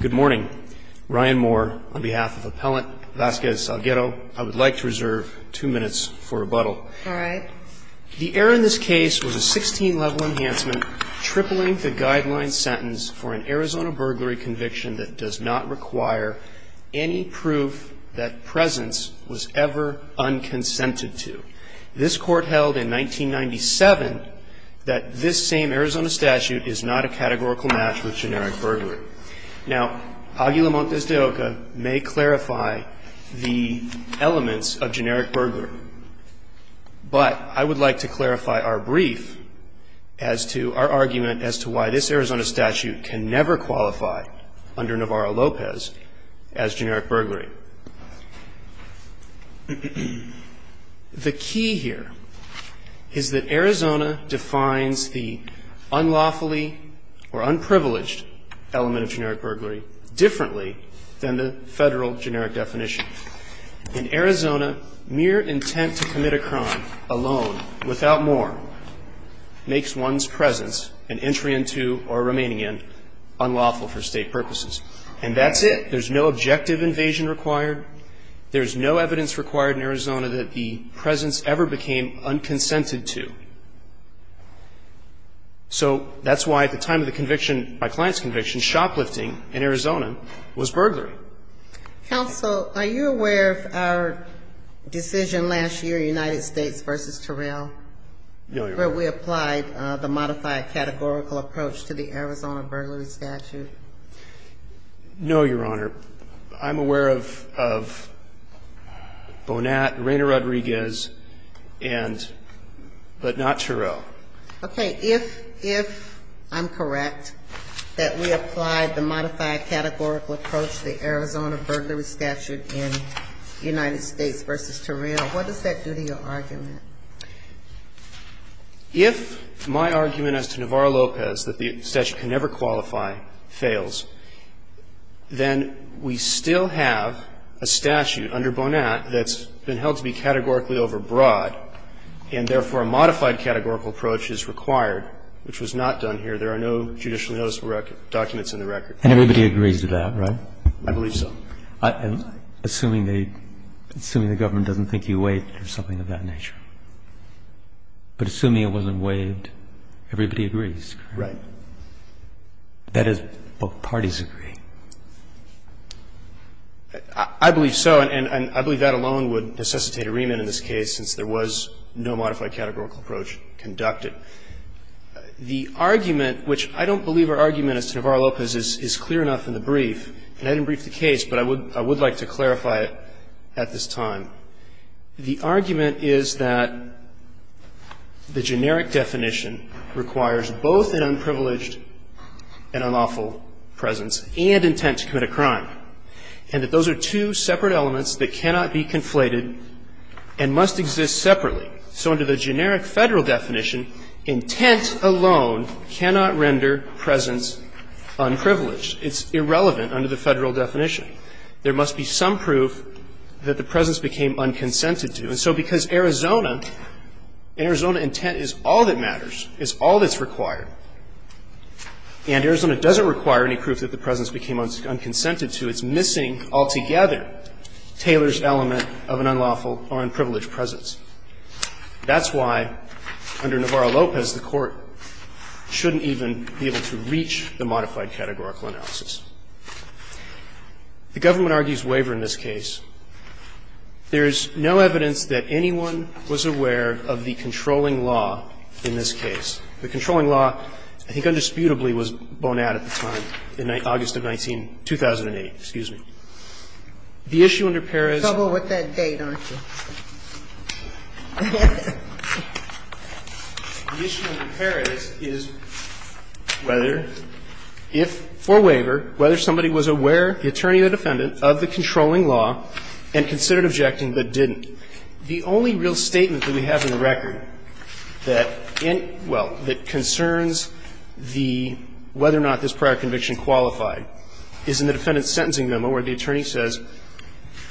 Good morning. Ryan Moore on behalf of Appellant Vasquez-Salguero. I would like to reserve two minutes for rebuttal. All right. The error in this case was a 16-level enhancement, tripling the guideline sentence for an Arizona burglary conviction that does not require any proof that presence was ever unconsented to. This Court held in 1997 that this same Arizona statute is not a categorical match with generic burglary. Now, Aguila Montes de Oca may clarify the elements of generic burglary, but I would like to clarify our brief as to our argument as to why this Arizona statute can never qualify under Navarro-Lopez as generic burglary. The key here is that Arizona defines the unlawfully or unprivileged element of generic burglary differently than the Federal generic definition. In Arizona, mere intent to commit a crime alone, without more, makes one's presence and entry into or remaining in unlawful for State purposes. And that's it. There's no objective invasion required. There's no evidence required in Arizona that the presence ever became unconsented to. So that's why at the time of the conviction, my client's conviction, shoplifting in Arizona was burglary. Counsel, are you aware of our decision last year, United States v. Terrell, where we applied the modified categorical approach to the Arizona burglary statute? No, Your Honor. I'm aware of Bonat, Reyna Rodriguez, and but not Terrell. Okay. If I'm correct, that we applied the modified categorical approach to the Arizona burglary statute in United States v. Terrell, what does that do to your argument? If my argument as to Navarro-Lopez, that the statute can never qualify, fails, then we still have a statute under Bonat that's been held to be categorically overbroad, and therefore a modified categorical approach is required, which was not done here. There are no judicially noticeable documents in the record. And everybody agrees with that, right? I believe so. Assuming the government doesn't think you waived or something of that nature. But assuming it wasn't waived, everybody agrees. Right. That is, both parties agree. I believe so, and I believe that alone would necessitate a remand in this case, since there was no modified categorical approach conducted. The argument, which I don't believe our argument as to Navarro-Lopez is clear enough in the brief, and I didn't brief the case, but I would like to clarify it at this time. The argument is that the generic definition requires both an unprivileged and unlawful presence and intent to commit a crime, and that those are two separate elements that cannot be conflated and must exist separately. So under the generic Federal definition, intent alone cannot render presence unprivileged. It's irrelevant under the Federal definition. There must be some proof that the presence became unconsented to. And so because Arizona, Arizona intent is all that matters, is all that's required, and Arizona doesn't require any proof that the presence became unconsented to, it's missing altogether Taylor's element of an unlawful or unprivileged presence. That's why under Navarro-Lopez the Court shouldn't even be able to reach the modified categorical analysis. The government argues waiver in this case. There is no evidence that anyone was aware of the controlling law in this case. The controlling law, I think, undisputably was born out at the time, August of 2008. Excuse me. The only real statement that we have in the record that, well, that concerns the whether or not this prior conviction qualified is in the defendant's sentencing memo where the attorney says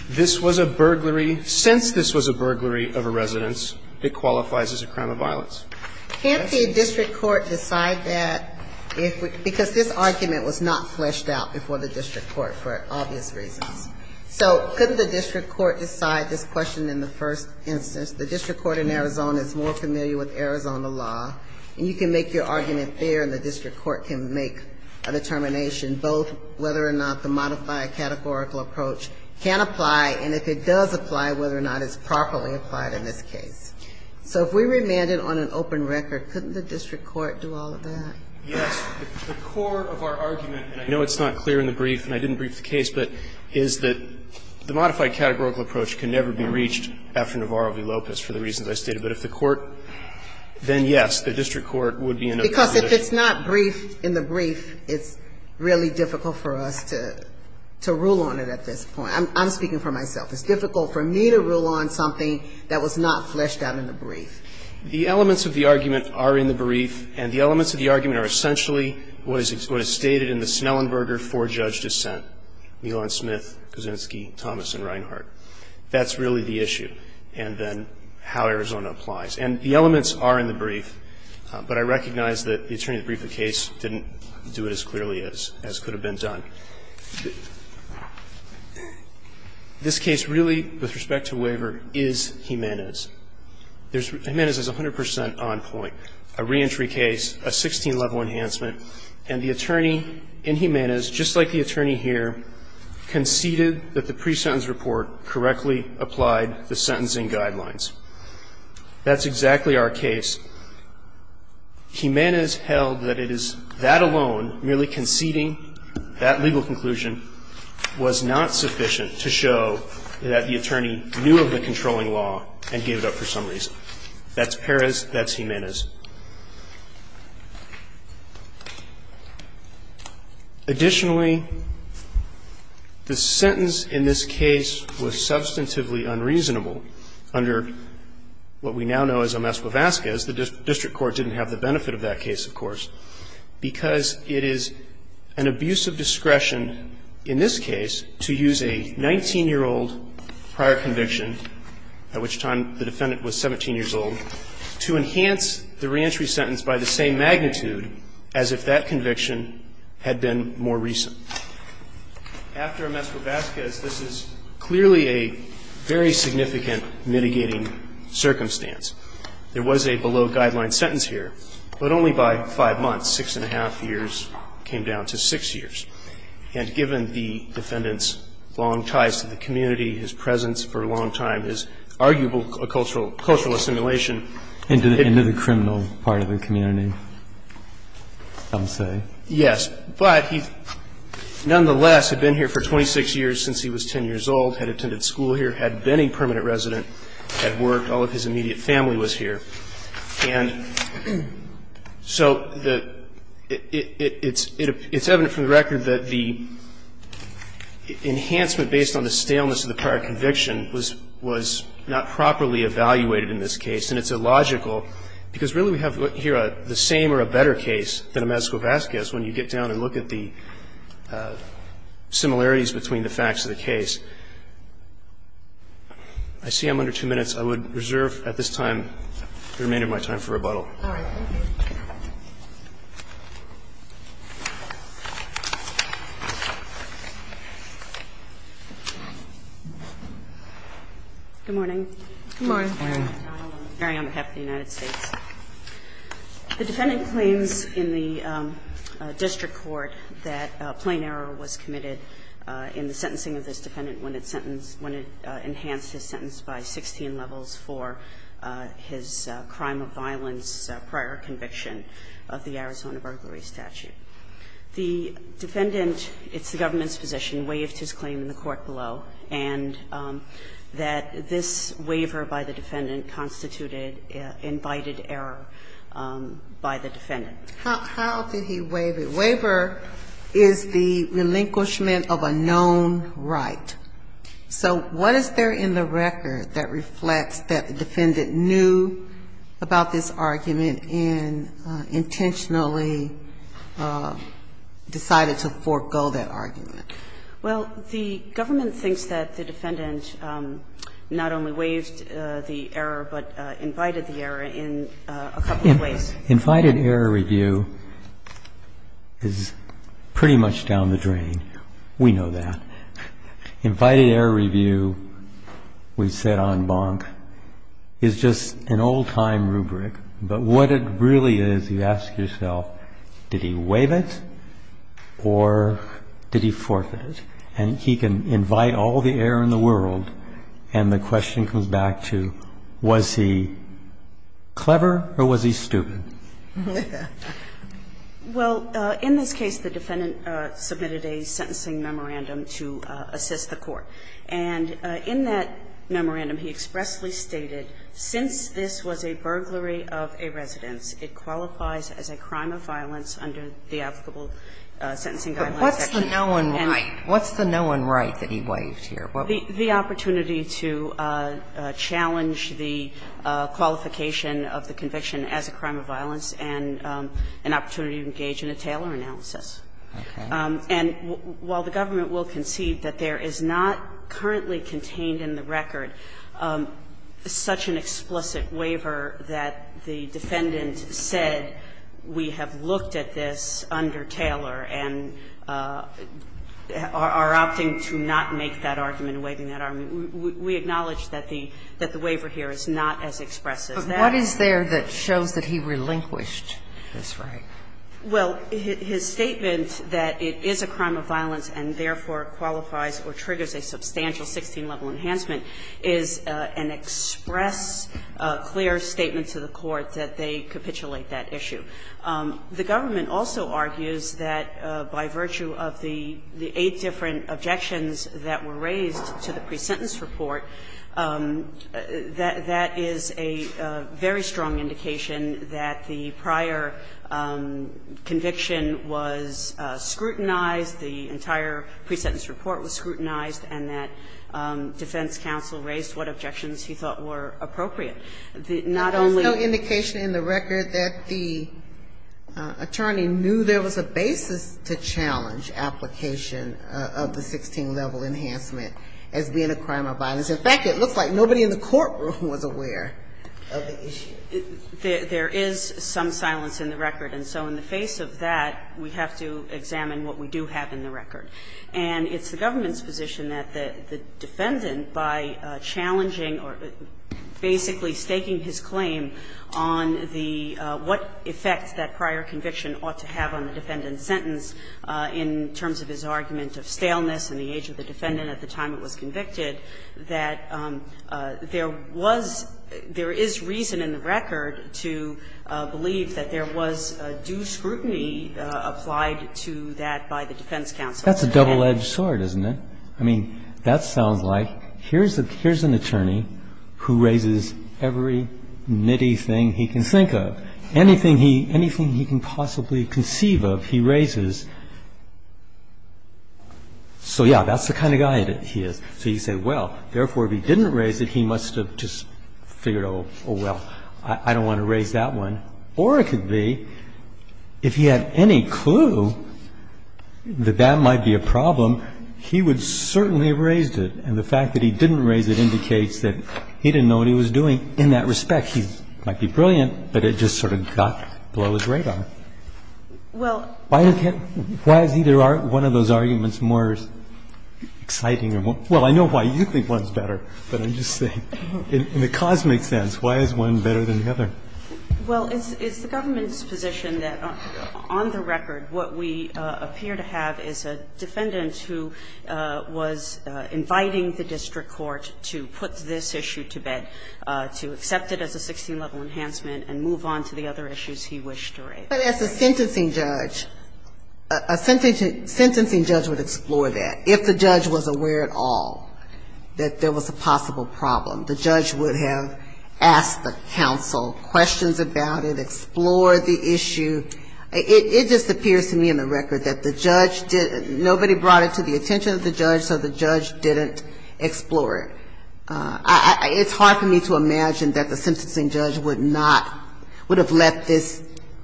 this was a burglary, since this was a burglary of a residence, it qualifies as a crime of violence. Can't the district court decide that if, because this argument was not fleshed out before the district court for obvious reasons. So couldn't the district court decide this question in the first instance? The district court in Arizona is more familiar with Arizona law, and you can make your argument there and the district court can make a determination, both whether or not the modified categorical approach can apply, and if it does apply, whether or not it's properly applied in this case. So if we remanded on an open record, couldn't the district court do all of that? Yes. The core of our argument, and I know it's not clear in the brief and I didn't brief the case, but is that the modified categorical approach can never be reached after Navarro v. Lopez for the reasons I stated. But if the court, then yes, the district court would be in a position to. Because if it's not briefed in the brief, it's really difficult for us to rule on it at this point. I'm speaking for myself. It's difficult for me to rule on something that was not fleshed out in the brief. The elements of the argument are in the brief, and the elements of the argument are essentially what is stated in the Snellenberger four-judge dissent, Nealon Smith, Kuczynski, Thomas, and Reinhart. That's really the issue, and then how Arizona applies. And the elements are in the brief, but I recognize that the attorney that briefed the case didn't do it as clearly as could have been done. This case really, with respect to waiver, is Jimenez. Jimenez is 100 percent on point. A reentry case, a 16-level enhancement, and the attorney in Jimenez, just like the attorney here, conceded that the pre-sentence report correctly applied the sentencing guidelines. That's exactly our case. Jimenez held that it is that alone, merely conceding that level of enhancement was not sufficient to show that the attorney knew of the controlling law and gave it up for some reason. That's Perez. That's Jimenez. Additionally, the sentence in this case was substantively unreasonable under what we now know as a mess with Vasquez. The district court didn't have the benefit of that case, of course, because it is an abuse of discretion in this case to use a 19-year-old prior conviction, at which time the defendant was 17 years old, to enhance the reentry sentence by the same magnitude as if that conviction had been more recent. After a mess with Vasquez, this is clearly a very significant mitigating circumstance. There was a below-guideline sentence here, but only by five months, six and a half years came down to six years. And given the defendant's long ties to the community, his presence for a long time, his arguable cultural assimilation. Into the criminal part of the community, some say. Yes. But he nonetheless had been here for 26 years since he was 10 years old, had attended school here, had been a permanent resident, had worked, all of his immediate family was here. And so it's evident from the record that the enhancement based on the staleness of the prior conviction was not properly evaluated in this case, and it's illogical because really we have here the same or a better case than a mess with Vasquez when you get down and look at the similarities between the facts of the case. I see I'm under two minutes. I would reserve at this time the remainder of my time for rebuttal. All right. Thank you. Good morning. Good morning. I'm Mary on behalf of the United States. The defendant claims in the district court that a plain error was committed in the sentencing of this defendant when it sentenced, when it enhanced his sentence by 16 levels for his crime of violence prior conviction of the Arizona burglary statute. The defendant, it's the government's position, waived his claim in the court below and that this waiver by the defendant constituted invited error by the defendant. How did he waive it? Waiver is the relinquishment of a known right. So what is there in the record that reflects that the defendant knew about this argument and intentionally decided to forego that argument? Well, the government thinks that the defendant not only waived the error but invited the error in a couple of ways. Invited error review is pretty much down the drain. We know that. Invited error review, we've said on Bonk, is just an old-time rubric. But what it really is, you ask yourself, did he waive it or did he forfeit it? And he can invite all the error in the world, and the question comes back to was he clever or was he stupid? Well, in this case, the defendant submitted a sentencing memorandum to assist the court. And in that memorandum, he expressly stated, since this was a burglary of a residence, it qualifies as a crime of violence under the applicable sentencing guidelines. But what's the known right? What's the known right that he waived here? The opportunity to challenge the qualification of the conviction as a crime of violence and an opportunity to engage in a Taylor analysis. And while the government will concede that there is not currently contained in the record such an explicit waiver that the defendant said, we have looked at this under Taylor and are opting to not make that argument, waiving that argument. We acknowledge that the waiver here is not as express as that. But what is there that shows that he relinquished this right? Well, his statement that it is a crime of violence and therefore qualifies or triggers a substantial 16-level enhancement is an express, clear statement to the court that they capitulate that issue. The government also argues that by virtue of the eight different objections that were raised to the pre-sentence report, that is a very strong indication that the prior conviction was scrutinized, the entire pre-sentence report was scrutinized, and that defense counsel raised what objections he thought were appropriate. Not only the other. Sotomayor, the attorney knew there was a basis to challenge application of the 16-level enhancement as being a crime of violence. In fact, it looks like nobody in the courtroom was aware of the issue. There is some silence in the record. And so in the face of that, we have to examine what we do have in the record. And it's the government's position that the defendant, by challenging or basically staking his claim on the what effect that prior conviction ought to have on the defendant's sentence in terms of his argument of staleness in the age of the defendant at the time it was convicted, that there was – there is reason in the record to believe that there was due scrutiny applied to that by the defense counsel. That's a double-edged sword, isn't it? I mean, that sounds like here's an attorney who raises every nitty thing he can think of, anything he can possibly conceive of, he raises. So, yeah, that's the kind of guy that he is. So you say, well, therefore, if he didn't raise it, he must have just figured, oh, well, I don't want to raise that one. Or it could be, if he had any clue that that might be a problem, he would sort of have raised it. And the fact that he didn't raise it indicates that he didn't know what he was doing in that respect. He might be brilliant, but it just sort of got below his radar. Why is either one of those arguments more exciting or more – well, I know why you think one's better, but I'm just saying, in the cosmic sense, why is one better than the other? Well, it's the government's position that, on the record, what we appear to have is a defendant who was inviting the district court to put this issue to bed, to accept it as a 16-level enhancement and move on to the other issues he wished to raise. But as a sentencing judge, a sentencing judge would explore that. If the judge was aware at all that there was a possible problem, the judge would have asked the counsel questions about it, explored the issue. It just appears to me on the record that the judge – nobody brought it to the attention of the judge, so the judge didn't explore it. It's hard for me to imagine that the sentencing judge would not – would have let this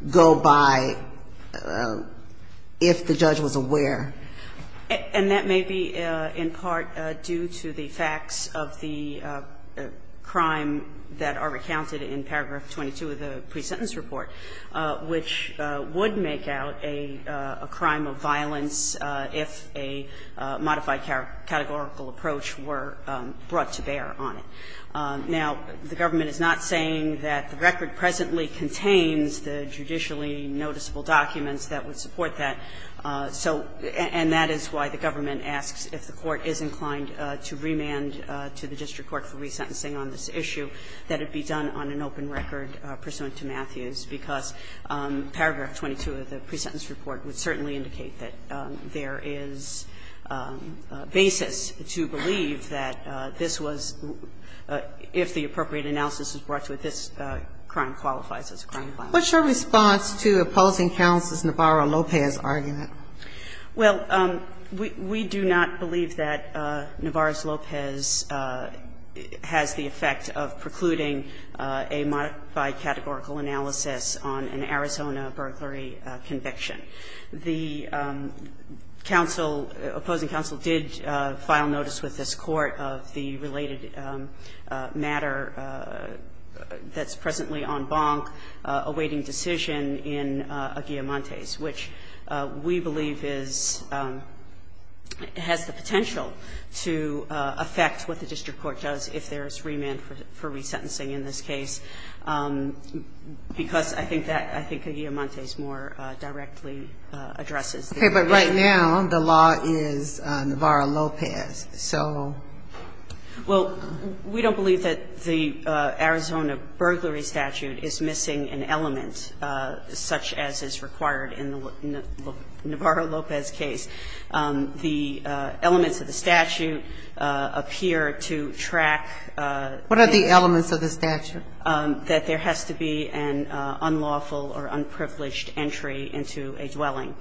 go by if the judge was aware. And that may be in part due to the facts of the crime that are recounted in paragraph 22 of the pre-sentence report, which would make out a crime of violence if a modified categorical approach were brought to bear on it. Now, the government is not saying that the record presently contains the judicially noticeable documents that would support that, so – and that is why the government asks if the court is inclined to remand to the district court for resentencing on this issue, that it be done on an open record pursuant to Matthews, because paragraph 22 of the pre-sentence report would certainly indicate that there is basis to believe that this was – if the appropriate analysis is brought to it, this crime qualifies as a crime of violence. What's your response to opposing counsel's Navarro-Lopez argument? Well, we do not believe that Navarro-Lopez has the effect of precluding a modified categorical analysis on an Arizona burglary conviction. The counsel, opposing counsel, did file notice with this Court of the related matter that's presently en banc awaiting decision in Aguilamontes, which we believe is – has the potential to affect what the district court does if there is remand for resentencing in this case, because I think that – I think Aguilamontes more directly addresses the case. Okay. But right now, the law is Navarro-Lopez. So – Well, we don't believe that the Arizona burglary statute is missing an element such as is required in the Navarro-Lopez case. The elements of the statute appear to track the – What are the elements of the statute? That there has to be an unlawful or unprivileged entry into a dwelling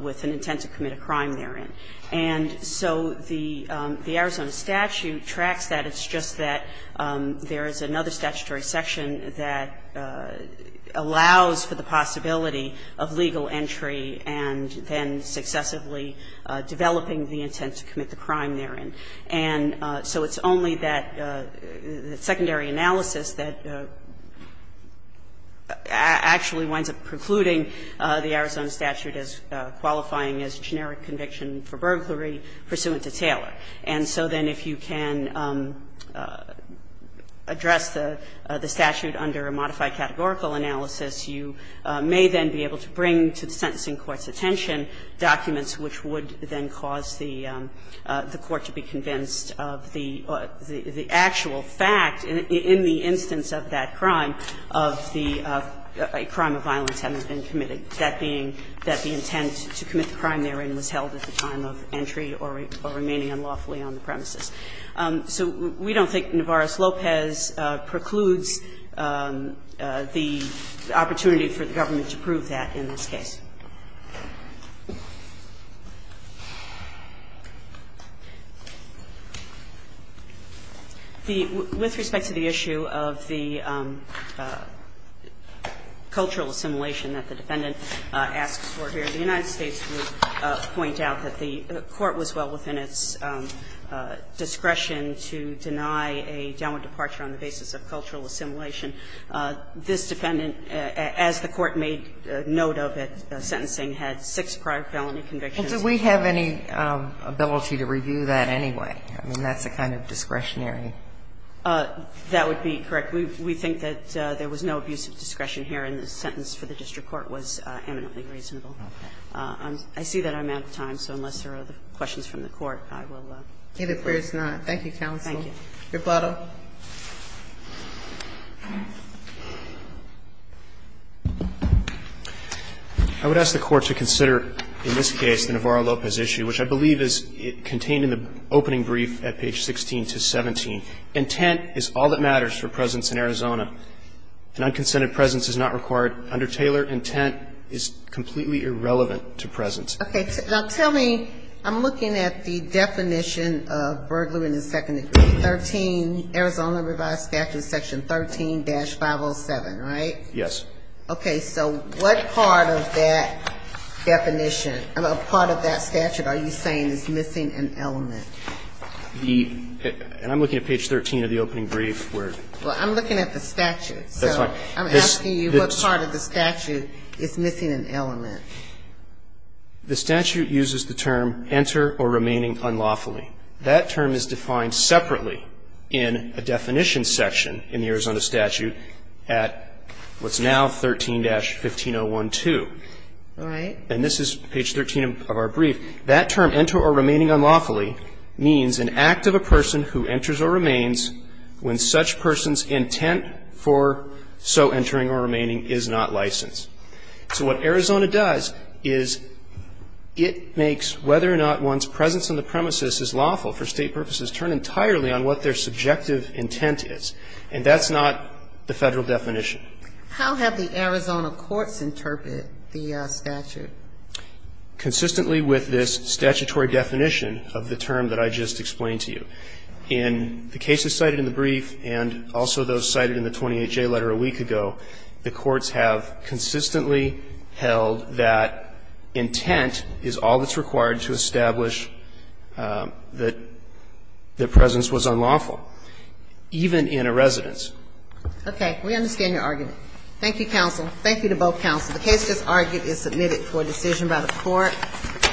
with an intent to commit a crime therein. And so the Arizona statute tracks that. And it's just that there is another statutory section that allows for the possibility of legal entry and then successively developing the intent to commit the crime therein. And so it's only that secondary analysis that actually winds up precluding the Arizona statute as qualifying as generic conviction for burglary pursuant to Taylor. And so then if you can address the statute under a modified categorical analysis, you may then be able to bring to the sentencing court's attention documents which would then cause the court to be convinced of the actual fact in the instance of that crime, of the crime of violence having been committed, that being that the defendant's intent was to commit the crime therein. We're trying to make sure that the statute is not unlawfully on the premises. So we don't think Navarro-Lopez precludes the opportunity for the government to prove that in this case. With respect to the issue of the cultural assimilation that the defendant asks for here, the United States would point out that the court was well within its discretion to deny a downward departure on the basis of cultural assimilation. This defendant, as the court made note of at sentencing, had six prior felony convictions. And so we have any ability to review that anyway? I mean, that's a kind of discretionary. That would be correct. We think that there was no abuse of discretion here, and the sentence for the district court was eminently reasonable. I see that I'm out of time, so unless there are other questions from the Court, I will move forward. Either way, it's not. Thank you, counsel. Thank you. Your Plano. I would ask the Court to consider, in this case, the Navarro-Lopez issue, which I believe is contained in the opening brief at page 16 to 17. Intent is all that matters for presence in Arizona. An unconsented presence is not required under Taylor. Intent is completely irrelevant to presence. Okay. Now, tell me, I'm looking at the definition of burglary in the second degree. 13, Arizona Revised Statute, section 13-507, right? Yes. Okay. So what part of that definition, part of that statute are you saying is missing an element? The – and I'm looking at page 13 of the opening brief where – Well, I'm looking at the statute. That's right. I'm asking you what part of the statute is missing an element. The statute uses the term, enter or remaining unlawfully. That term is defined separately in a definition section in the Arizona statute at what's now 13-15012. All right. And this is page 13 of our brief. That term, enter or remaining unlawfully, means an act of a person who enters or remains when such person's intent for so entering or remaining is not licensed. So what Arizona does is it makes whether or not one's presence on the premises is lawful for State purposes turn entirely on what their subjective intent is. And that's not the Federal definition. How have the Arizona courts interpreted the statute? Consistently with this statutory definition of the term that I just explained to you. In the cases cited in the brief and also those cited in the 28-J letter a week ago, the courts have consistently held that intent is all that's required to establish that their presence was unlawful, even in a residence. Okay. We understand your argument. Thank you, counsel. Thank you to both counsels. The case that's argued is submitted for decision by the Court. Thank you.